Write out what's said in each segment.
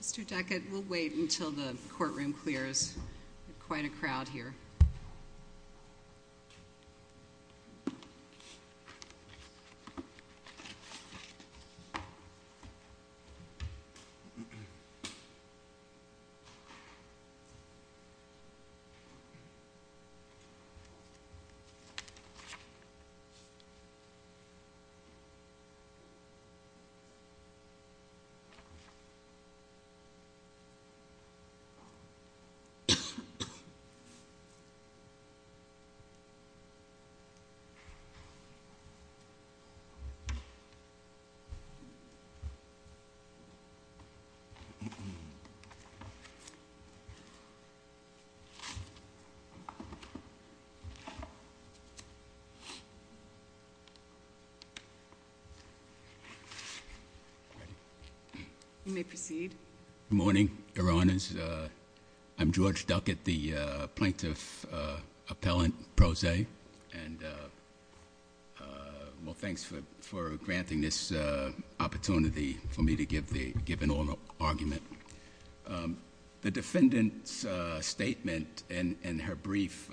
Mr. Deckett, we'll wait until the courtroom clears. There's quite a crowd here. You may proceed. Good morning, Your Honors. I'm George Deckett, the plaintiff appellant pro se. Well, thanks for granting this opportunity for me to give an oral argument. The defendant's statement in her brief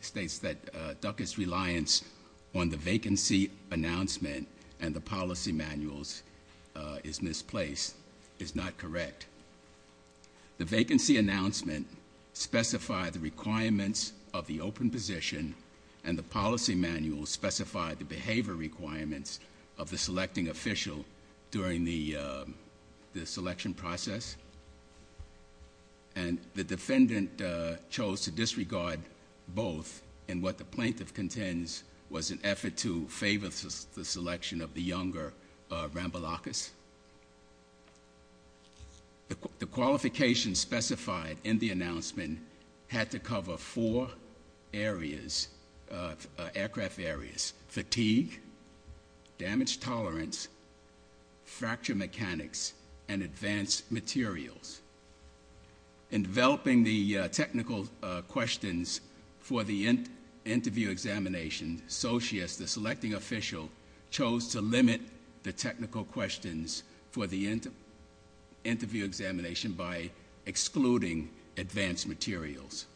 states that Duckett's reliance on the vacancy announcement and the policy manuals is misplaced, is not correct. The vacancy announcement specified the requirements of the open position and the policy manuals specified the behavior requirements of the selecting official during the selection process. And the defendant chose to disregard both in what the plaintiff contends was an effort to favor the selection of the younger Rambalakis. The qualifications specified in the announcement had to cover four areas, aircraft areas, fatigue, damage tolerance, fracture mechanics, and advanced materials. In developing the technical questions for the interview examination, the selecting official chose to limit the technical questions for the interview examination by excluding advanced materials.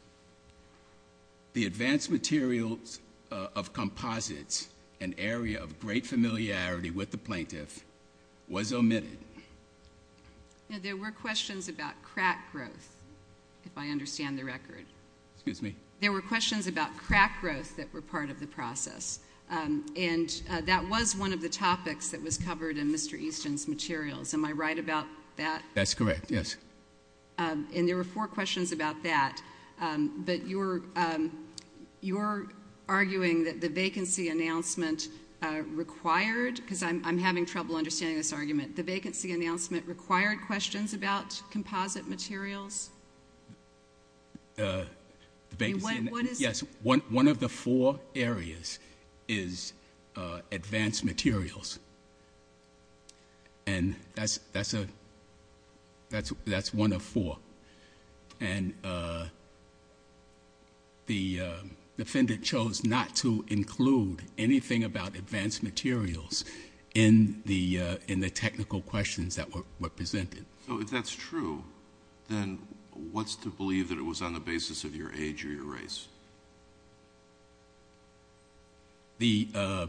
The advanced materials of composites, an area of great familiarity with the plaintiff, was omitted. There were questions about crack growth, if I understand the record. Excuse me? There were questions about crack growth that were part of the process. And that was one of the topics that was covered in Mr. Easton's materials. Am I right about that? That's correct, yes. And there were four questions about that. But you're arguing that the vacancy announcement required, because I'm having trouble understanding this argument, the vacancy announcement required questions about composite materials? Yes. One of the four areas is advanced materials. And that's one of four. And the defendant chose not to include anything about advanced materials in the technical questions that were presented. So if that's true, then what's to believe that it was on the basis of your age or your race? The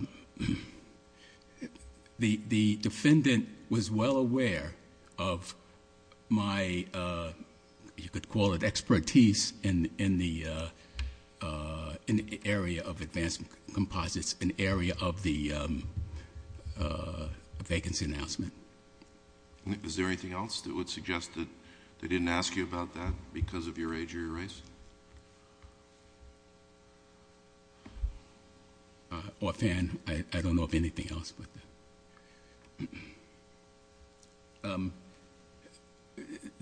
defendant was well aware of my, you could call it expertise in the area of advanced composites, an area of the vacancy announcement. Is there anything else that would suggest that they didn't ask you about that because of your age or your race? Offhand, I don't know of anything else.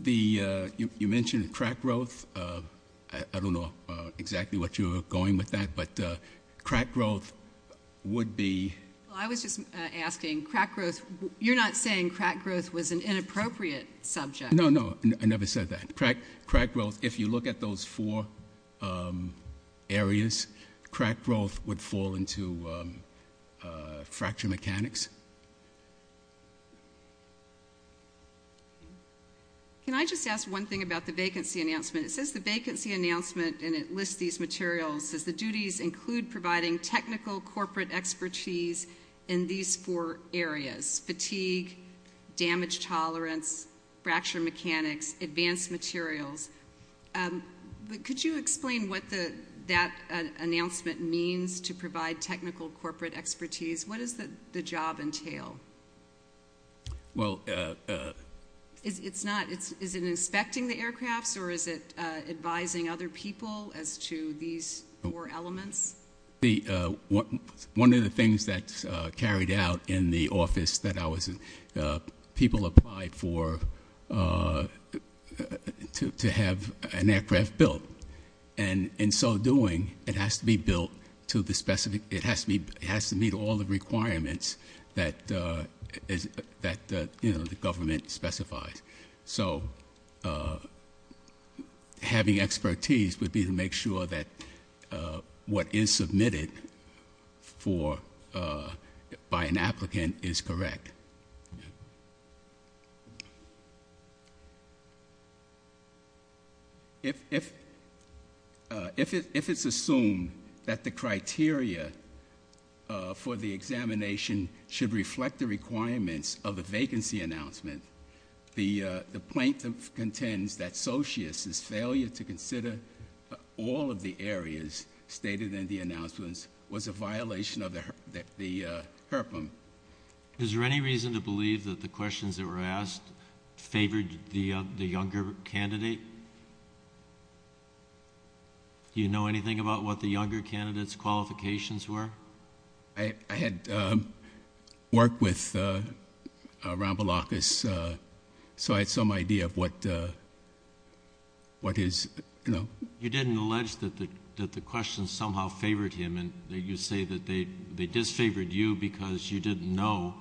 You mentioned crack growth. I don't know exactly what you were going with that, but crack growth would be? I was just asking, crack growth, you're not saying crack growth was an inappropriate subject? No, no, I never said that. Crack growth, if you look at those four areas, crack growth would fall into fracture mechanics. Can I just ask one thing about the vacancy announcement? It says the vacancy announcement, and it lists these materials, says the duties include providing technical corporate expertise in these four areas, fatigue, damage tolerance, fracture mechanics, advanced materials. Could you explain what that announcement means to provide technical corporate expertise? What does the job entail? Is it inspecting the aircrafts, or is it advising other people as to these four elements? One of the things that's carried out in the office that people apply for to have an aircraft built, in so doing, it has to meet all the requirements that the government specifies. So having expertise would be to make sure that what is submitted by an applicant is correct. If it's assumed that the criteria for the examination should reflect the requirements of the vacancy announcement, the plaintiff contends that Sochius's failure to consider all of the areas stated in the announcements was a violation of the HRPM. Is there any reason to believe that the questions that were asked favored the younger candidate? Do you know anything about what the younger candidate's qualifications were? I had worked with Ram Balakas, so I had some idea of what his, you know. You didn't allege that the questions somehow favored him, and you say that they disfavored you because you didn't know,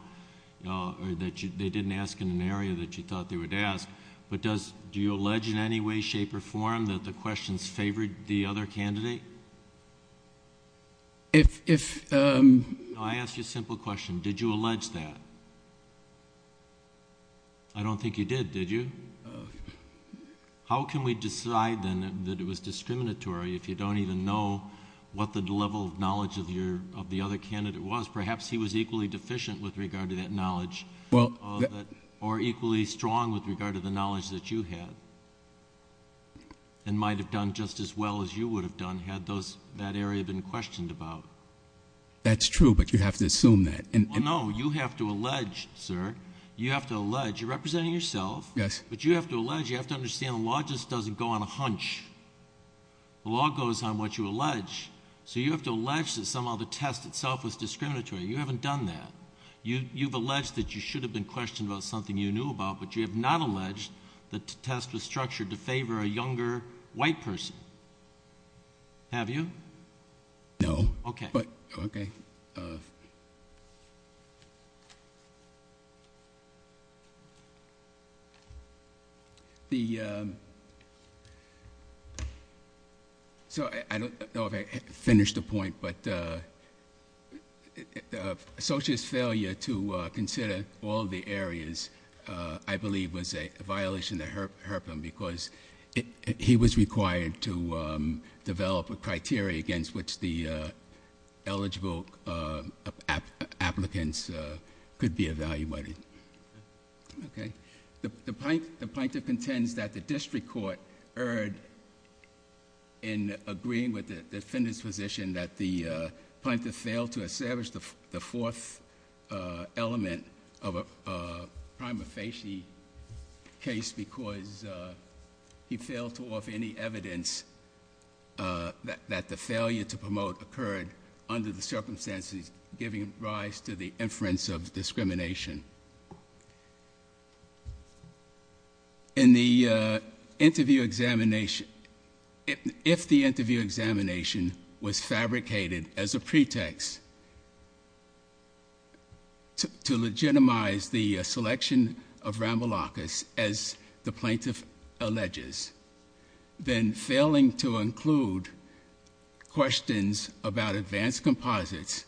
or that they didn't ask in an area that you thought they would ask, but do you allege in any way, shape, or form that the questions favored the other candidate? I ask you a simple question. Did you allege that? I don't think you did, did you? How can we decide then that it was discriminatory if you don't even know what the level of knowledge of the other candidate was? Perhaps he was equally deficient with regard to that knowledge, or equally strong with regard to the knowledge that you had, and might have done just as well as you would have done had that area been questioned about. That's true, but you have to assume that. No, you have to allege, sir. You have to allege. You're representing yourself. Yes. But you have to allege, you have to understand the law just doesn't go on a hunch. The law goes on what you allege, so you have to allege that somehow the test itself was discriminatory. You haven't done that. You've alleged that you should have been questioned about something you knew about, but you have not alleged that the test was structured to favor a younger white person. Have you? No. Okay. So I don't know if I finished the point, but Sochi's failure to consider all the areas, I believe, was a violation of the HIRPM, because he was required to develop a criteria against which the test was to be conducted. So that the eligible applicants could be evaluated. Okay. The plaintiff contends that the district court erred in agreeing with the defendant's position that the plaintiff failed to establish the fourth element of a prima facie case because he failed to offer any evidence that the failure to promote occurred under the circumstances giving rise to the inference of discrimination. In the interview examination, if the interview examination was fabricated as a pretext to legitimize the selection of Ramboulakis, as the plaintiff alleges, then failing to include questions about advanced composites,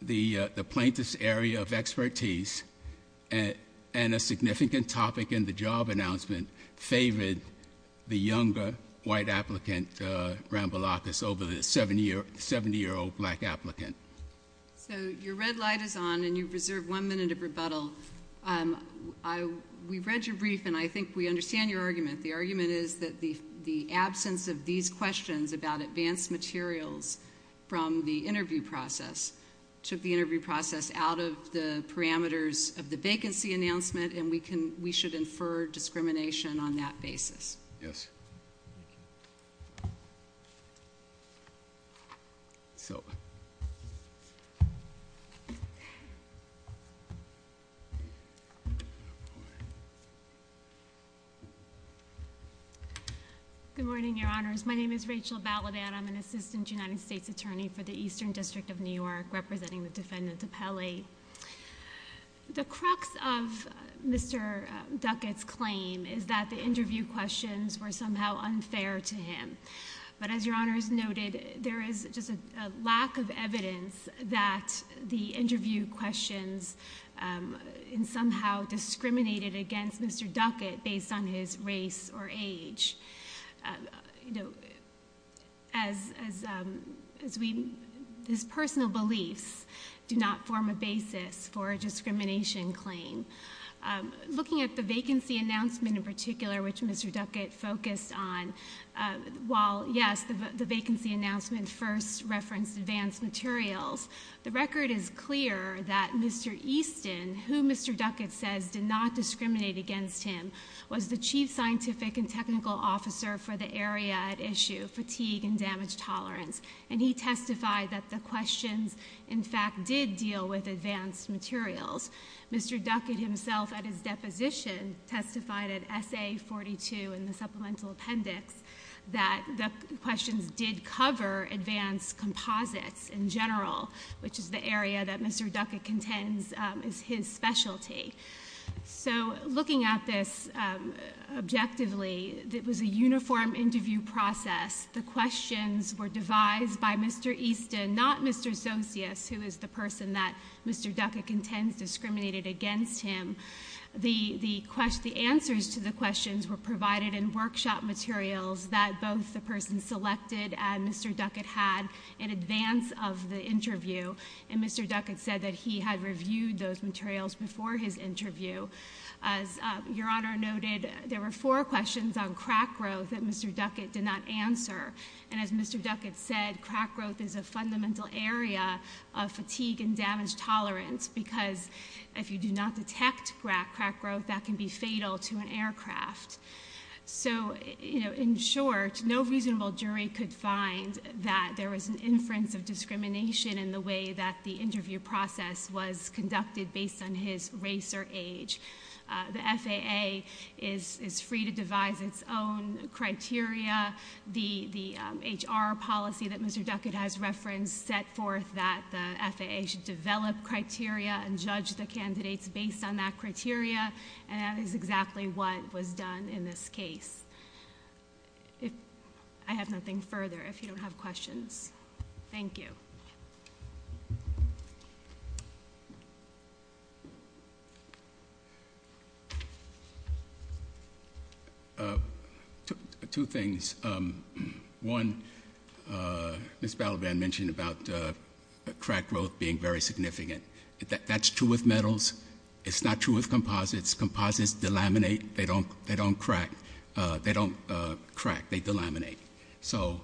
the plaintiff's area of expertise, and a significant topic in the job announcement favored the younger white applicant, Ramboulakis, over the 70-year-old black applicant. So your red light is on, and you reserve one minute of rebuttal. We've read your brief, and I think we understand your argument. The argument is that the absence of these questions about advanced materials from the interview process took the interview process out of the parameters of the vacancy announcement, and we should infer discrimination on that basis. Yes. Silver. Good morning, Your Honors. My name is Rachel Balladat. I'm an assistant United States attorney for the Eastern District of New York, representing the defendant DiPelle. The crux of Mr. Duckett's claim is that the interview questions were somehow unfair to him, but as Your Honors noted, there is just a lack of evidence that the interview questions somehow discriminated against Mr. Duckett based on his race or age. His personal beliefs do not form a basis for a discrimination claim. Looking at the vacancy announcement in particular, which Mr. Duckett focused on, while, yes, the vacancy announcement first referenced advanced materials, the record is clear that Mr. Easton, who Mr. Duckett says did not discriminate against him, was the chief scientific and technical officer for the area at issue, fatigue and damage tolerance, and he testified that the questions, in fact, did deal with advanced materials. Mr. Duckett himself, at his deposition, testified at SA42 in the supplemental appendix that the questions did cover advanced composites in general, which is the area that Mr. Duckett contends is his specialty. So looking at this objectively, it was a uniform interview process. The questions were devised by Mr. Easton, not Mr. Sosius, who is the person that Mr. Duckett contends discriminated against him. The answers to the questions were provided in workshop materials that both the person selected and Mr. Duckett had in advance of the interview, and Mr. Duckett said that he had reviewed those materials before his interview. As Your Honor noted, there were four questions on crack growth that Mr. Duckett did not answer, and as Mr. Duckett said, crack growth is a fundamental area of fatigue and damage tolerance because if you do not detect crack growth, that can be fatal to an aircraft. So in short, no reasonable jury could find that there was an inference of discrimination in the way that the interview process was conducted based on his race or age. The FAA is free to devise its own criteria. The HR policy that Mr. Duckett has referenced set forth that the FAA should develop criteria and judge the candidates based on that criteria, and that is exactly what was done in this case. I have nothing further if you don't have questions. Thank you. Two things. One, Ms. Balaban mentioned about crack growth being very significant. That's true with metals. It's not true with composites. Composites delaminate. They don't crack. They delaminate. So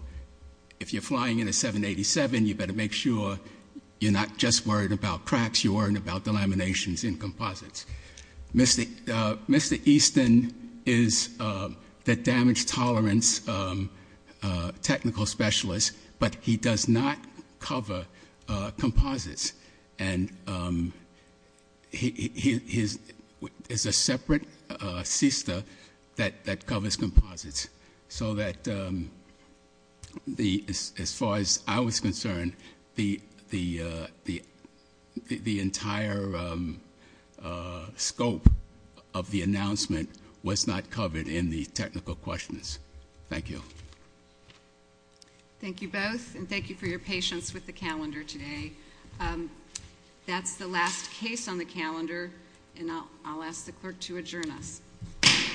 if you're flying in a 787, you better make sure you're not just worried about cracks. You're worried about delaminations in composites. Mr. Easton is the damage tolerance technical specialist, but he does not cover composites. And he is a separate sister that covers composites, so that as far as I was concerned, the entire scope of the announcement was not covered in the technical questions. Thank you. Thank you both, and thank you for your patience with the calendar today. That's the last case on the calendar, and I'll ask the clerk to adjourn us. Court is adjourned.